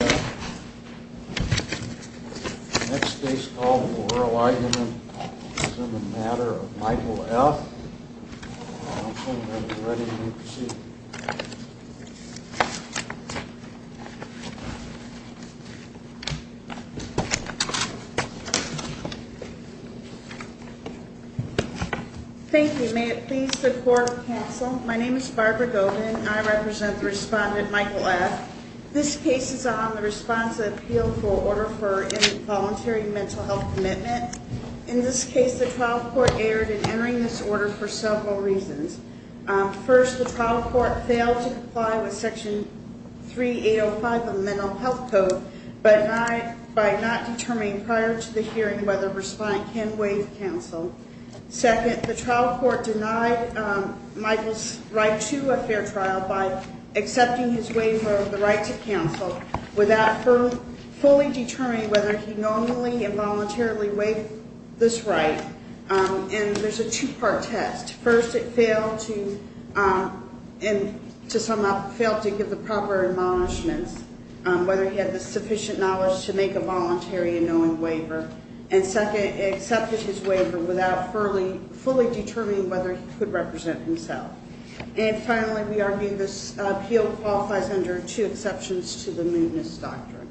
Thank you. May it please the court counsel. My name is Barbara Govan. I represent the respondent Michael F. This case is on the response to the appeal for order for involuntary mental health commitment. In this case, the trial court erred in entering this order for several reasons. First, the trial court failed to comply with Section 3805 of the Mental Health Code by not determining prior to the hearing whether a respondent can waive counsel. Second, the trial court denied Michael's right to a fair trial by accepting his waiver of the right to counsel without fully determining whether he normally and voluntarily waived this right. And there's a two-part test. First, it failed to give the proper admonishments, whether he had the sufficient knowledge to make a voluntary and knowing waiver. And second, it accepted his waiver without fully determining whether he could represent himself. And finally, we argue this appeal qualifies under two exceptions to the mootness doctrine.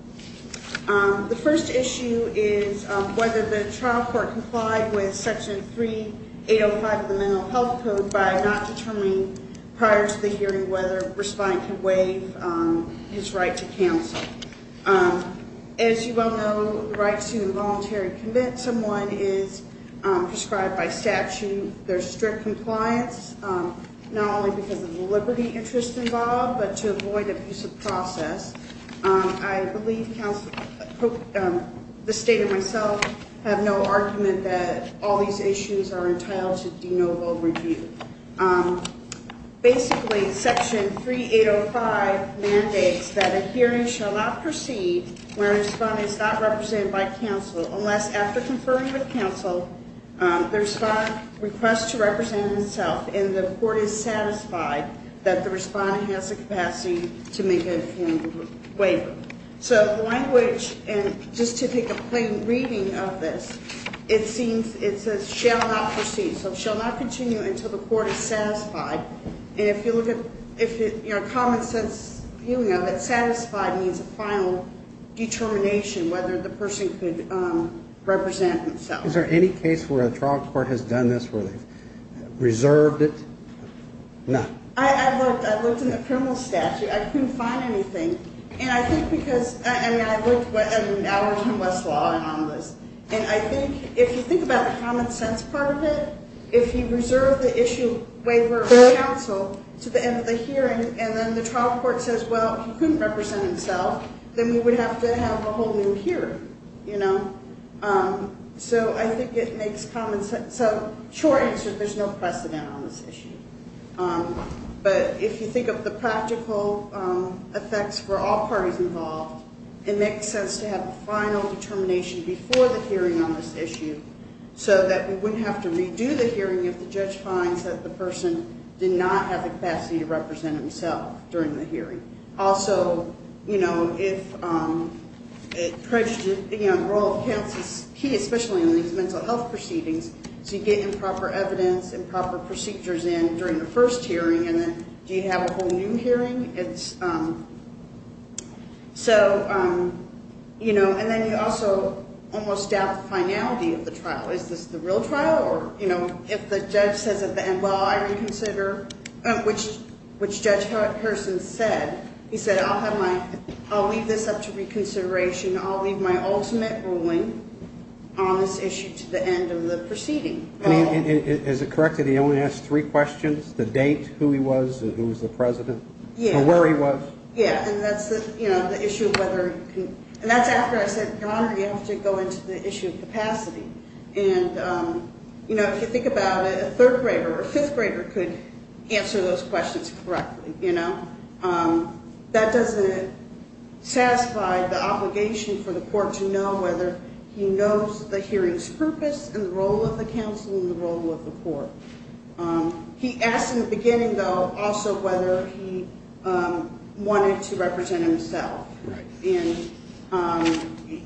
The first issue is whether the trial court complied with Section 3805 of the Mental Health Code by not determining prior to the hearing whether a respondent can waive his right to counsel. As you well know, the right to involuntary commit someone is prescribed by statute. The second issue is whether the trial court failed to comply with Section 3805 of the Mental Health Code by not determining prior to the hearing whether a respondent can waive his right to counsel. We argue that the trial court failed to comply with Section 3805 of the Mental Health Code by not determining prior to the hearing whether a respondent can waive his right to counsel. We request to represent himself, and the court is satisfied that the respondent has the capacity to make a informed waiver. So the language, and just to take a plain reading of this, it seems, it says, shall not proceed. So shall not continue until the court is satisfied. And if you look at, you know, common sense appealing of it, satisfied means a final determination whether the person could represent himself. Is there any case where a trial court has done this where they've reserved it? No. I've looked. I've looked in the criminal statute. I couldn't find anything. And I think because, I mean, I worked in Westlaw and on this. And I think if you think about the common sense part of it, if you reserve the issue waiver of counsel to the end of the hearing and then the trial court says, well, he couldn't represent himself, then we would have to have a whole new hearing, you know. So I think it makes common sense. So short answer, there's no precedent on this issue. But if you think of the practical effects for all parties involved, it makes sense to have a final determination before the hearing on this issue so that we wouldn't have to redo the hearing if the judge finds that the person did not have the capacity to represent himself during the hearing. Also, you know, if the role of counsel is key, especially in these mental health proceedings, so you get improper evidence, improper procedures in during the first hearing and then do you have a whole new hearing? So, you know, and then you also almost doubt the finality of the trial. Is this the real trial or, you know, if the judge says at the end, well, I reconsider, which Judge Harrison said, he said, I'll leave this up to reconsideration. I'll leave my ultimate ruling on this issue to the end of the proceeding. Is it correct that he only asked three questions, the date, who he was, who was the president, where he was? Yeah. And that's, you know, the issue of whether, and that's after I said, Your Honor, you have to go into the issue of capacity. And, you know, if you think about it, a third grader or a fifth grader could answer those questions correctly. You know, that doesn't satisfy the obligation for the court to know whether he knows the hearing's purpose and the role of the counsel and the role of the court. He asked in the beginning, though, also whether he wanted to represent himself. And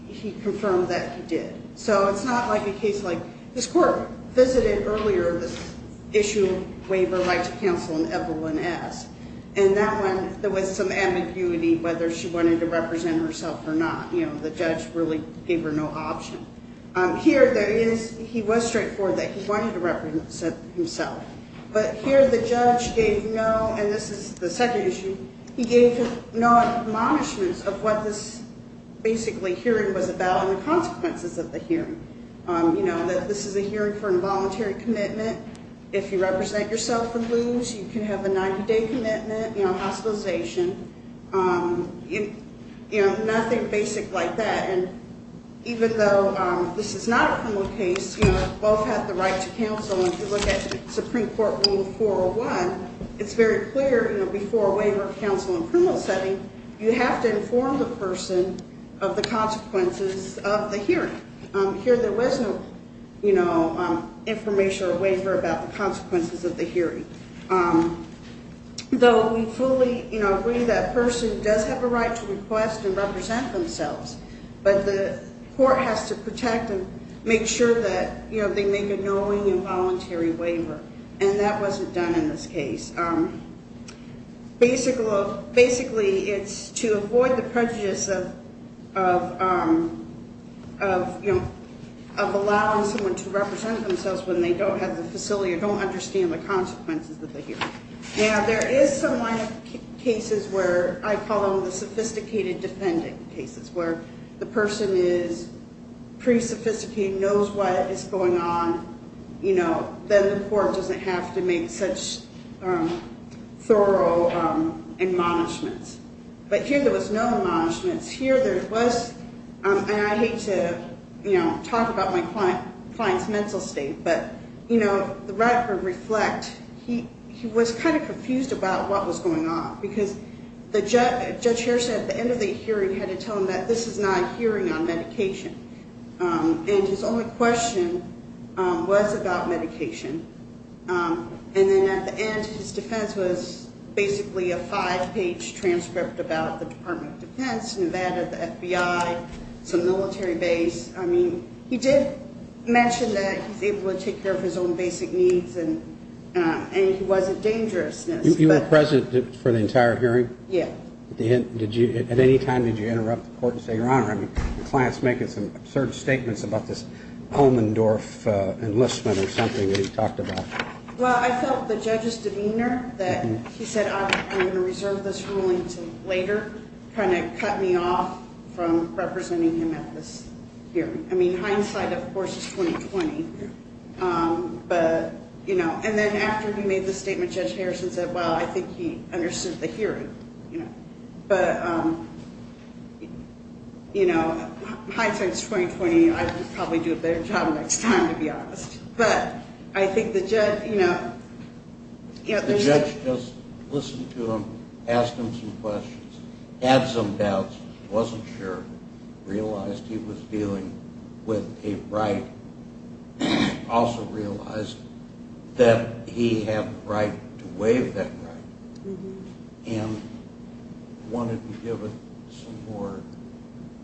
he confirmed that he did. So it's not like a case like this court visited earlier this issue, waiver, right to counsel, and everyone asked. And that one, there was some ambiguity whether she wanted to represent herself or not. You know, the judge really gave her no option. Here, there is, he was straightforward that he wanted to represent himself. But here the judge gave no, and this is the second issue, he gave no admonishments of what this basically hearing was about and the consequences of the hearing. You know, that this is a hearing for involuntary commitment. If you represent yourself and lose, you can have a 90-day commitment, you know, hospitalization. You know, nothing basic like that. And even though this is not a criminal case, you know, both have the right to counsel. And if you look at Supreme Court Rule 401, it's very clear, you know, before a waiver of counsel in a criminal setting, you have to inform the person of the consequences of the hearing. Here there was no, you know, information or waiver about the consequences of the hearing. Though we fully, you know, agree that a person does have a right to request and represent themselves. But the court has to protect and make sure that, you know, they make a knowing involuntary waiver. And that wasn't done in this case. Basically, it's to avoid the prejudice of, you know, of allowing someone to represent themselves when they don't have the facility or don't understand the consequences. Now, there is some cases where I call them the sophisticated defendant cases where the person is pretty sophisticated, knows what is going on. You know, then the court doesn't have to make such thorough admonishments. But here there was no admonishments. Here there was, and I hate to, you know, talk about my client's mental state. But, you know, the record reflect, he was kind of confused about what was going on. Because the judge here said at the end of the hearing had to tell him that this is not a hearing on medication. And his only question was about medication. And then at the end, his defense was basically a five-page transcript about the Department of Defense, Nevada, the FBI, some military base. I mean, he did mention that he was able to take care of his own basic needs and he wasn't dangerous. You were present for the entire hearing? Yeah. At any time did you interrupt the court and say, Your Honor, I mean, the client's making some absurd statements about this Elmendorf enlistment or something that he talked about? Well, I felt the judge's demeanor that he said I'm going to reserve this ruling to later kind of cut me off from representing him at this hearing. I mean, hindsight, of course, is 20-20. But, you know, and then after he made the statement, Judge Harrison said, Well, I think he understood the hearing. But, you know, hindsight is 20-20. I would probably do a better job next time, to be honest. But I think the judge, you know, The judge just listened to him, asked him some questions, had some doubts, wasn't sure, realized he was dealing with a right, also realized that he had the right to waive that right, and wanted to give it some more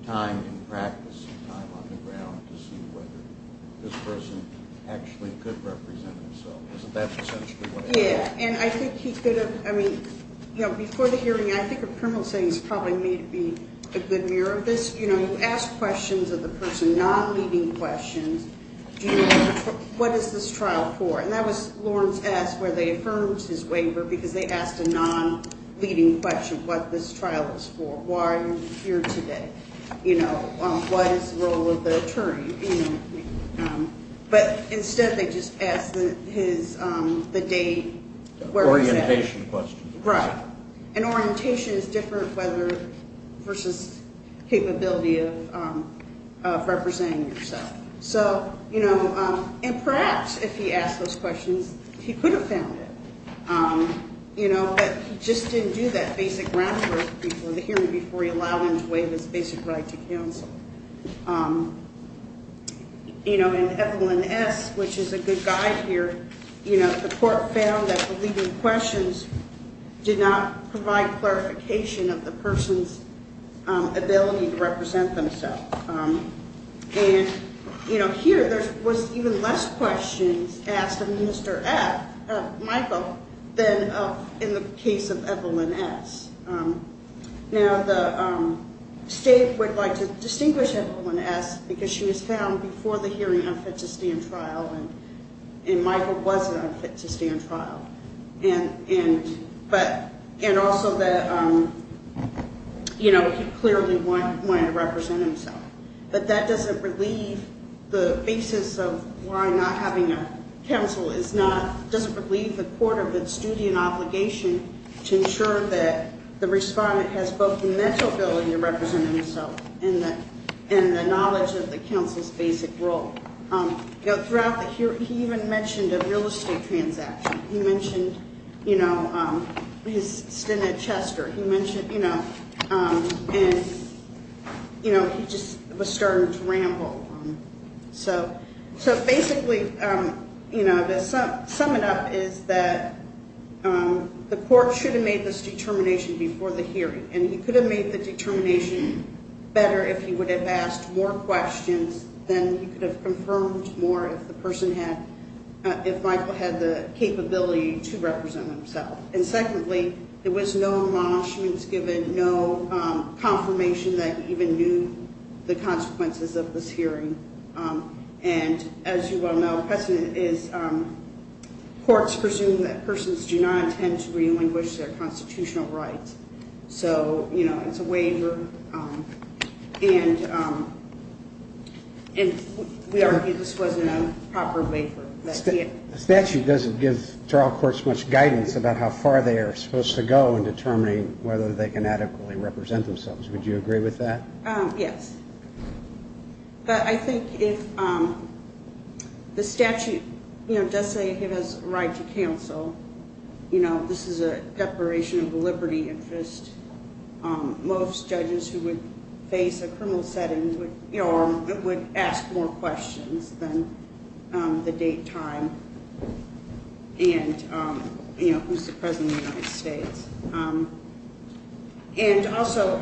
time and practice, some time on the ground to see whether this person actually could represent himself. Isn't that essentially what happened? Yeah, and I think he could have, I mean, you know, before the hearing, I think a criminal saying is probably made to be a good mirror of this. You know, you ask questions of the person, non-leading questions. What is this trial for? And that was Lawrence S., where they affirmed his waiver, because they asked a non-leading question, What this trial is for? Why are you here today? You know, what is the role of the attorney? But instead, they just asked the date. Orientation questions. Right. And orientation is different versus capability of representing yourself. So, you know, and perhaps if he asked those questions, he could have found it. You know, but he just didn't do that basic groundwork before the hearing, before he allowed him to waive his basic right to counsel. You know, in Evelyn S., which is a good guide here, you know, the court found that the leading questions did not provide clarification of the person's ability to represent themselves. And, you know, here, there was even less questions asked of Mr. F., Michael, than in the case of Evelyn S. Now, the state would like to distinguish Evelyn S., because she was found before the hearing unfit to stand trial, and Michael wasn't unfit to stand trial. And also that, you know, he clearly wanted to represent himself. But that doesn't relieve the basis of why not having a counsel is not, doesn't relieve the court of its duty and obligation to ensure that the respondent has both the mental ability to represent himself and the knowledge of the counsel's basic role. You know, throughout the hearing, he even mentioned a real estate transaction. He mentioned, you know, his stint at Chester. He mentioned, you know, and, you know, he just was starting to ramble. So basically, you know, to sum it up is that the court should have made this determination before the hearing. And he could have made the determination better if he would have asked more questions than he could have confirmed more if the person had, if Michael had the capability to represent himself. And secondly, there was no embellishments given, no confirmation that he even knew the consequences of this hearing. And as you well know, precedent is courts presume that persons do not intend to relinquish their constitutional rights. So, you know, it's a waiver. And we argue this was an improper waiver. The statute doesn't give trial courts much guidance about how far they are supposed to go in determining whether they can adequately represent themselves. Would you agree with that? Yes. But I think if the statute, you know, does say he has a right to counsel, you know, this is a declaration of liberty interest. Most judges who would face a criminal setting, you know, would ask more questions than the date, time, and, you know, who's the President of the United States. And also,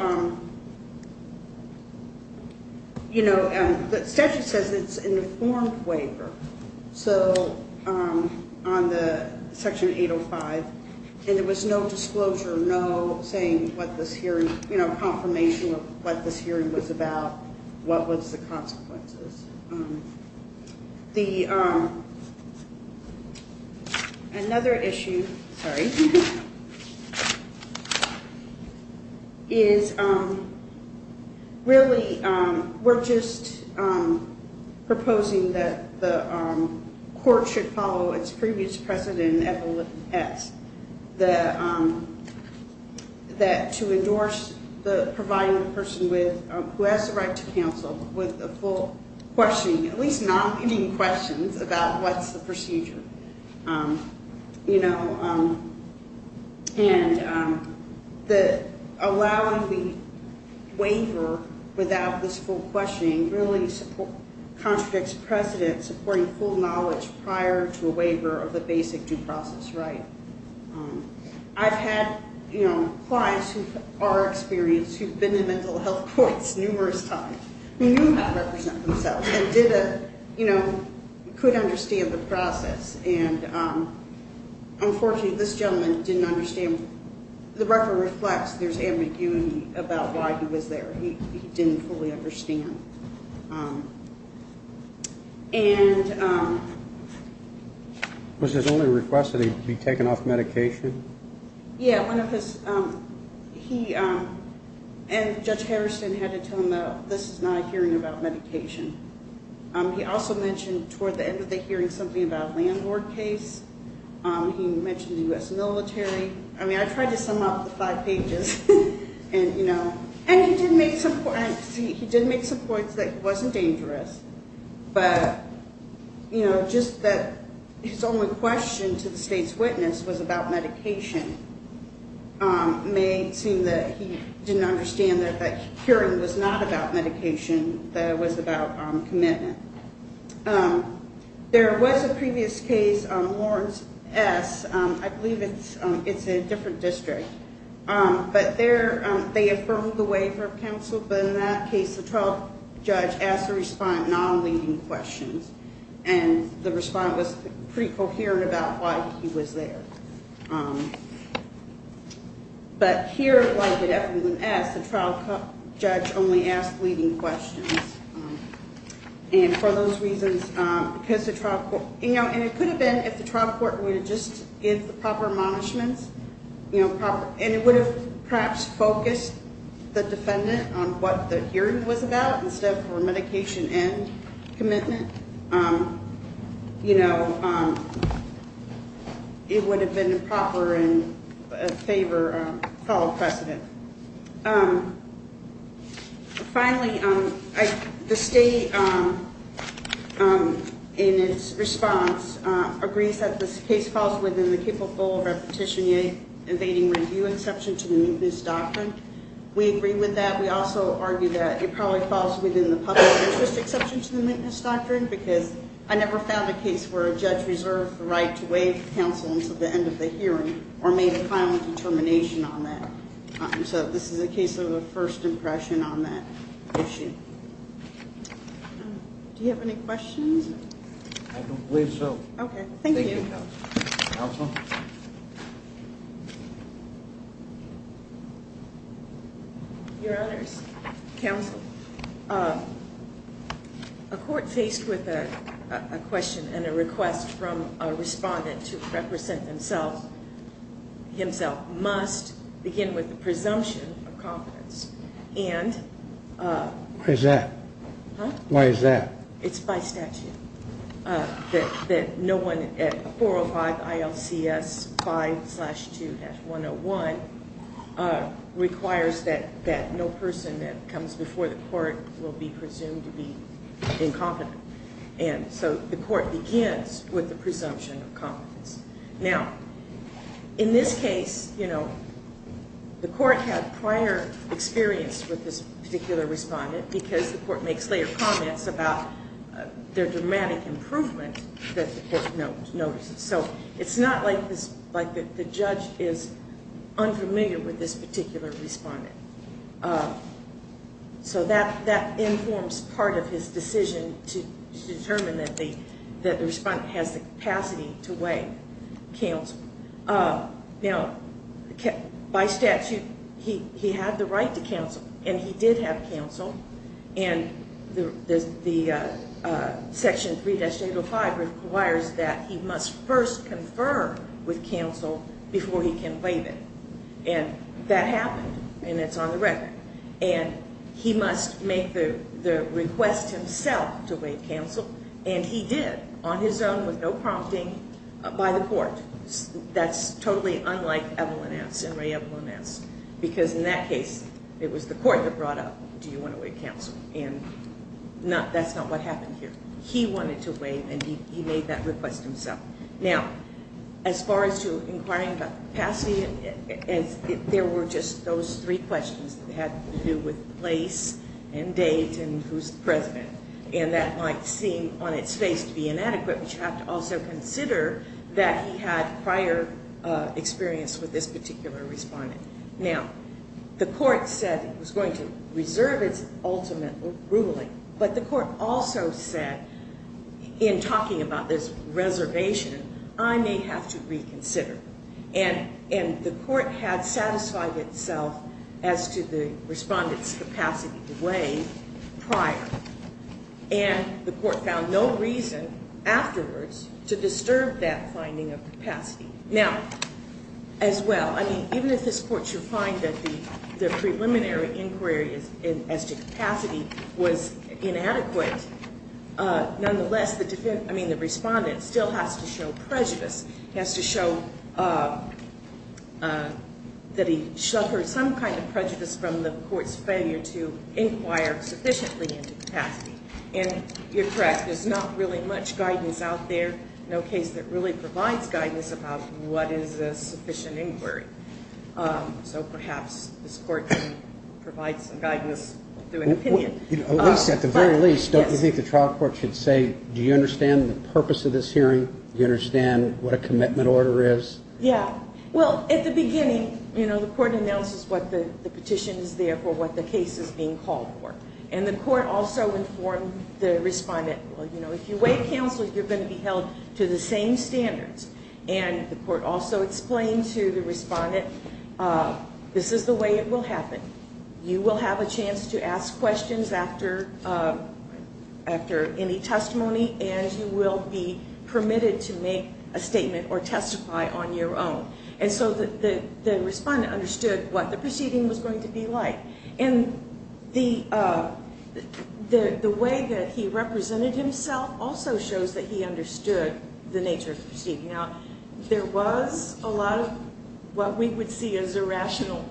you know, the statute says it's an informed waiver. So on the Section 805, and there was no disclosure, no saying what this hearing, you know, confirmation of what this hearing was about, what was the consequences. Another issue, sorry, is really we're just proposing that the court should follow its previous precedent, that to endorse the providing the person who has the right to counsel with the full questioning, at least not giving questions about what's the procedure, you know. And allowing the waiver without this full questioning really contradicts precedent, supporting full knowledge prior to a waiver of the basic due process right. I've had, you know, clients who are experienced, who've been in mental health courts numerous times, who knew how to represent themselves and did a, you know, could understand the process. And unfortunately, this gentleman didn't understand, the record reflects there's ambiguity about why he was there. He didn't fully understand. And... Was his only request that he be taken off medication? Yeah, one of his, he, and Judge Harrison had to tell him that this is not a hearing about medication. He also mentioned toward the end of the hearing something about a landlord case. He mentioned the U.S. military. I mean, I tried to sum up the five pages. And, you know, and he did make some points, he did make some points that it wasn't dangerous. But, you know, just that his only question to the state's witness was about medication. Made it seem that he didn't understand that that hearing was not about medication, that it was about commitment. There was a previous case on Lawrence S. I believe it's in a different district. But there, they affirmed the waiver of counsel. But in that case, the 12th judge asked the respondent non-leading questions. And the respondent was pretty coherent about why he was there. But here, why did everyone ask? The trial judge only asked leading questions. And for those reasons, because the trial court, you know, and it could have been if the trial court would have just given the proper admonishments. You know, proper, and it would have perhaps focused the defendant on what the hearing was about instead of for medication and commitment. You know, it would have been a proper and a favor to follow precedent. Finally, the state, in its response, agrees that this case falls within the capable repetition, evading review exception to the maintenance doctrine. We agree with that. We also argue that it probably falls within the public interest exception to the maintenance doctrine. Because I never found a case where a judge reserved the right to waive counsel until the end of the hearing or made a final determination on that. So this is a case of a first impression on that issue. Do you have any questions? I believe so. Okay. Thank you. Thank you, Counsel. Counsel? Your Honors. Counsel. A court faced with a question and a request from a respondent to represent himself must begin with the presumption of confidence. Why is that? Huh? Why is that? It's by statute that no one at 405 ILCS 5-2-101 requires that no person that comes before the court will be presumed to be incompetent. And so the court begins with the presumption of confidence. Now, in this case, you know, the court had prior experience with this particular respondent because the court makes later comments about their dramatic improvement that the court notices. So it's not like the judge is unfamiliar with this particular respondent. So that informs part of his decision to determine that the respondent has the capacity to weigh counsel. Now, by statute, he had the right to counsel, and he did have counsel. And the Section 3-805 requires that he must first confirm with counsel before he can waive it. And that happened, and it's on the record. And he must make the request himself to waive counsel, and he did on his own with no prompting by the court. That's totally unlike Evelyn S. and Ray Evelyn S. Because in that case, it was the court that brought up, do you want to waive counsel? And that's not what happened here. He wanted to waive, and he made that request himself. Now, as far as to inquiring about capacity, there were just those three questions that had to do with place and date and who's the president. And that might seem on its face to be inadequate, but you have to also consider that he had prior experience with this particular respondent. Now, the court said it was going to reserve its ultimate ruling. But the court also said, in talking about this reservation, I may have to reconsider. And the court had satisfied itself as to the respondent's capacity to waive prior. And the court found no reason afterwards to disturb that finding of capacity. Now, as well, even if this court should find that the preliminary inquiry as to capacity was inadequate, nonetheless, the respondent still has to show prejudice. He has to show that he suffered some kind of prejudice from the court's failure to inquire sufficiently into capacity. And you're correct. There's not really much guidance out there. No case that really provides guidance about what is a sufficient inquiry. So perhaps this court can provide some guidance through an opinion. At the very least, don't you think the trial court should say, do you understand the purpose of this hearing? Do you understand what a commitment order is? Yeah. Well, at the beginning, you know, the court announces what the petition is there for, what the case is being called for. And the court also informed the respondent, well, you know, if you waive counsel, you're going to be held to the same standards. And the court also explained to the respondent, this is the way it will happen. You will have a chance to ask questions after any testimony, and you will be permitted to make a statement or testify on your own. And so the respondent understood what the proceeding was going to be like. And the way that he represented himself also shows that he understood the nature of the proceeding. Now, there was a lot of what we would see as irrational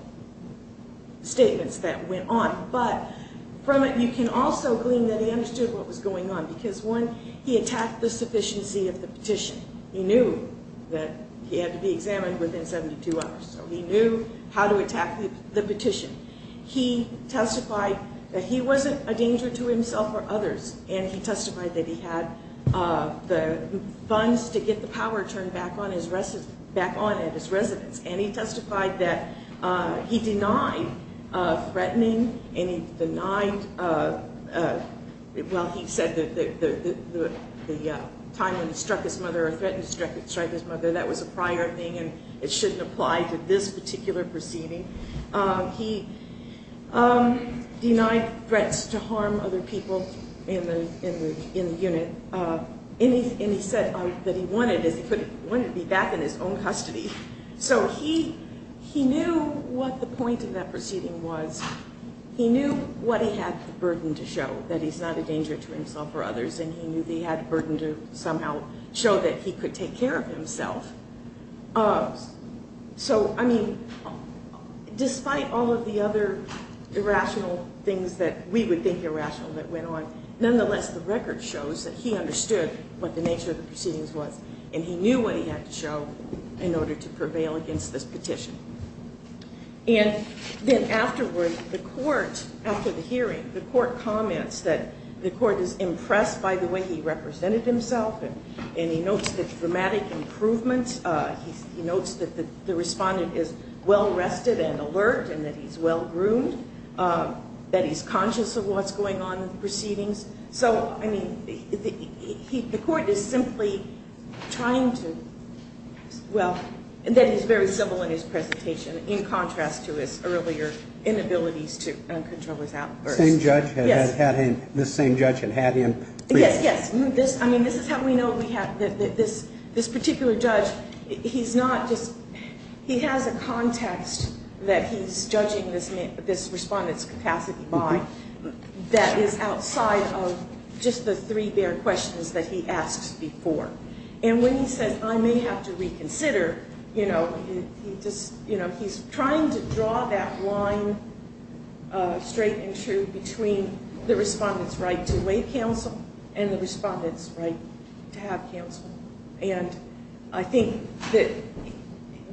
statements that went on. But from it, you can also glean that he understood what was going on because, one, he attacked the sufficiency of the petition. He knew that he had to be examined within 72 hours. So he knew how to attack the petition. He testified that he wasn't a danger to himself or others. And he testified that he had the funds to get the power turned back on at his residence. And he testified that he denied threatening and he denied, well, he said that the time when he struck his mother or threatened to strike his mother, that was a prior thing and it shouldn't apply to this particular proceeding. He denied threats to harm other people in the unit. And he said that he wanted to be back in his own custody. So he knew what the point of that proceeding was. He knew what he had the burden to show, that he's not a danger to himself or others. And he knew that he had the burden to somehow show that he could take care of himself. So, I mean, despite all of the other irrational things that we would think irrational that went on, nonetheless, the record shows that he understood what the nature of the proceedings was. And he knew what he had to show in order to prevail against this petition. And then afterwards, the court, after the hearing, the court comments that the court is impressed by the way he represented himself. And he notes the dramatic improvements. He notes that the respondent is well-rested and alert and that he's well-groomed, that he's conscious of what's going on in the proceedings. So, I mean, the court is simply trying to, well, that he's very civil in his presentation, in contrast to his earlier inabilities to control his outbursts. Yes. This same judge had had him briefed. Yes, yes. I mean, this is how we know that this particular judge, he's not just he has a context that he's judging this respondent's capacity by that is outside of just the three bare questions that he asks before. And when he says, I may have to reconsider, you know, he just, you know, he's trying to draw that line straight and true between the respondent's right to waive counsel and the respondent's right to have counsel. And I think that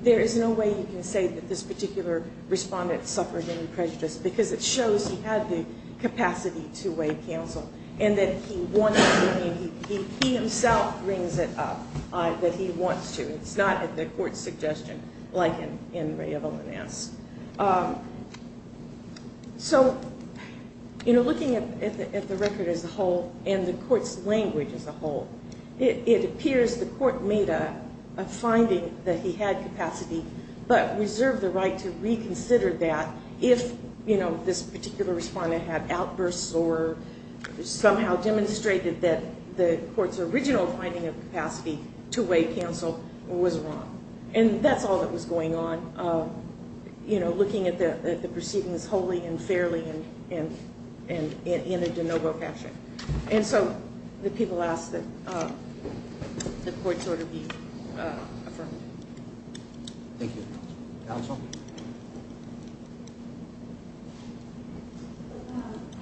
there is no way you can say that this particular respondent suffered any prejudice because it shows he had the capacity to waive counsel and that he wanted to. I mean, he himself brings it up that he wants to. It's not the court's suggestion like in Ray of Almanaz. So, you know, looking at the record as a whole and the court's language as a whole, it appears the court made a finding that he had capacity but reserved the right to reconsider that if, you know, this particular respondent had outbursts or somehow demonstrated that the court's original finding of capacity to waive counsel was wrong. And that's all that was going on, you know, looking at the proceedings wholly and fairly and in a de novo fashion. And so the people ask that the court's order be affirmed. Thank you. Counsel?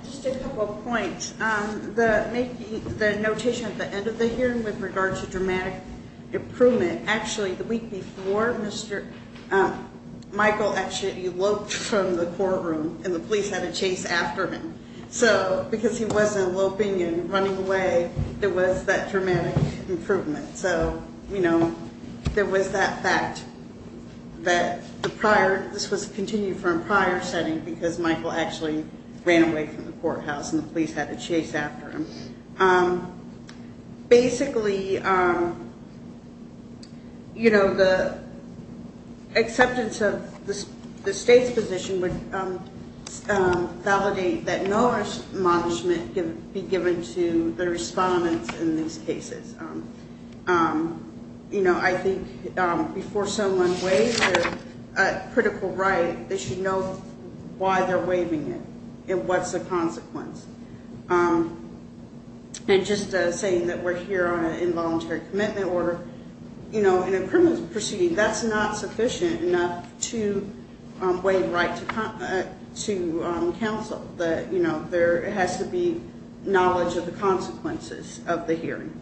Just a couple of points. The notation at the end of the hearing with regard to dramatic improvement, actually the week before, Michael actually eloped from the courtroom and the police had to chase after him. So because he wasn't eloping and running away, there was that dramatic improvement. So, you know, there was that fact that the prior, this was continued from a prior setting because Michael actually ran away from the courthouse and the police had to chase after him. Basically, you know, the acceptance of the state's position would validate that no admonishment can be given to the respondents in these cases. You know, I think before someone waives their critical right, they should know why they're waiving it and what's the consequence. And just saying that we're here on an involuntary commitment or, you know, in a criminal proceeding, that's not sufficient enough to waive right to counsel, that, you know, there has to be knowledge of the consequences of the hearing.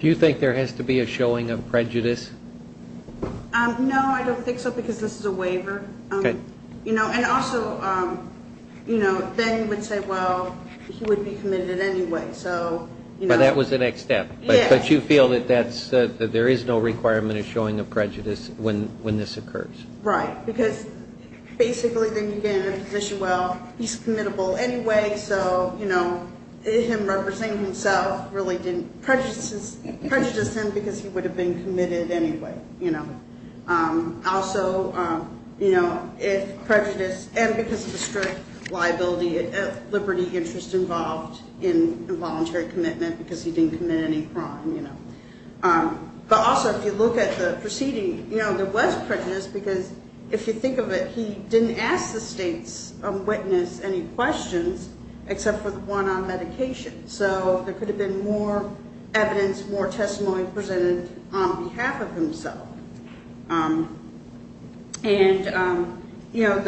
Do you think there has to be a showing of prejudice? No, I don't think so because this is a waiver. Okay. You know, and also, you know, then you would say, well, he would be committed anyway, so, you know. But that was the next step. Yes. But you feel that that's, that there is no requirement of showing of prejudice when this occurs. Right, because basically then you get in a position, well, he's committable anyway, so, you know, him representing himself really didn't prejudice him because he would have been committed anyway, you know. Also, you know, if prejudice and because of the strict liability of liberty interest involved in involuntary commitment because he didn't commit any crime, you know. But also if you look at the proceeding, you know, there was prejudice because if you think of it, he didn't ask the state's witness any questions except for the one on medication. So there could have been more evidence, more testimony presented on behalf of himself. And, you know,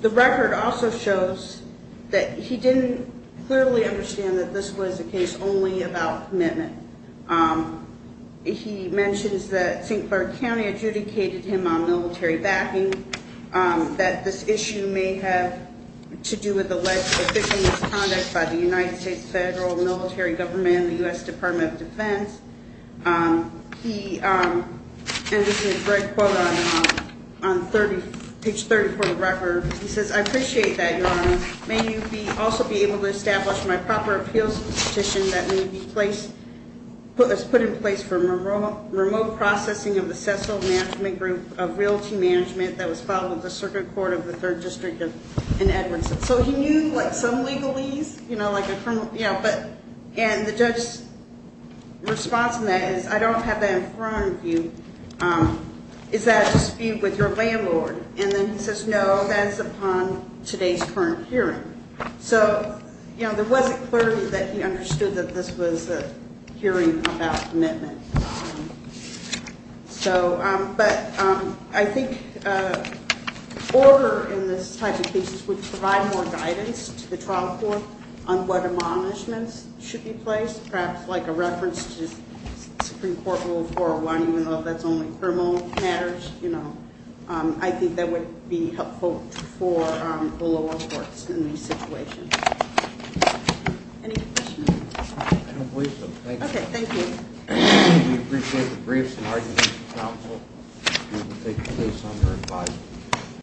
the record also shows that he didn't clearly understand that this was a case only about commitment. He mentions that St. Clair County adjudicated him on military backing, that this issue may have to do with the victims' conduct by the United States federal military government, the U.S. Department of Defense. He, and this is a great quote on page 34 of the record. He says, I appreciate that, Your Honor. May you also be able to establish my proper appeals petition that may be placed, put in place for remote processing of the Cecil Management Group of Realty Management that was filed with the Circuit Court of the Third District in Edmondson. So he knew, like, some legalese, you know, like a firm, you know, but, and the judge's response to that is, I don't have that in front of you. Is that a dispute with your landlord? And then he says, no, that is upon today's current hearing. So, you know, there wasn't clarity that he understood that this was a hearing about commitment. So, but I think order in this type of case would provide more guidance to the trial court on what admonishments should be placed, perhaps like a reference to Supreme Court Rule 401, even though that's only criminal matters, you know. I think that would be helpful for the lower courts in these situations. Any questions? I don't believe so. Thanks. Okay, thank you. We appreciate the briefs and arguments from counsel. We will take the case under advisement.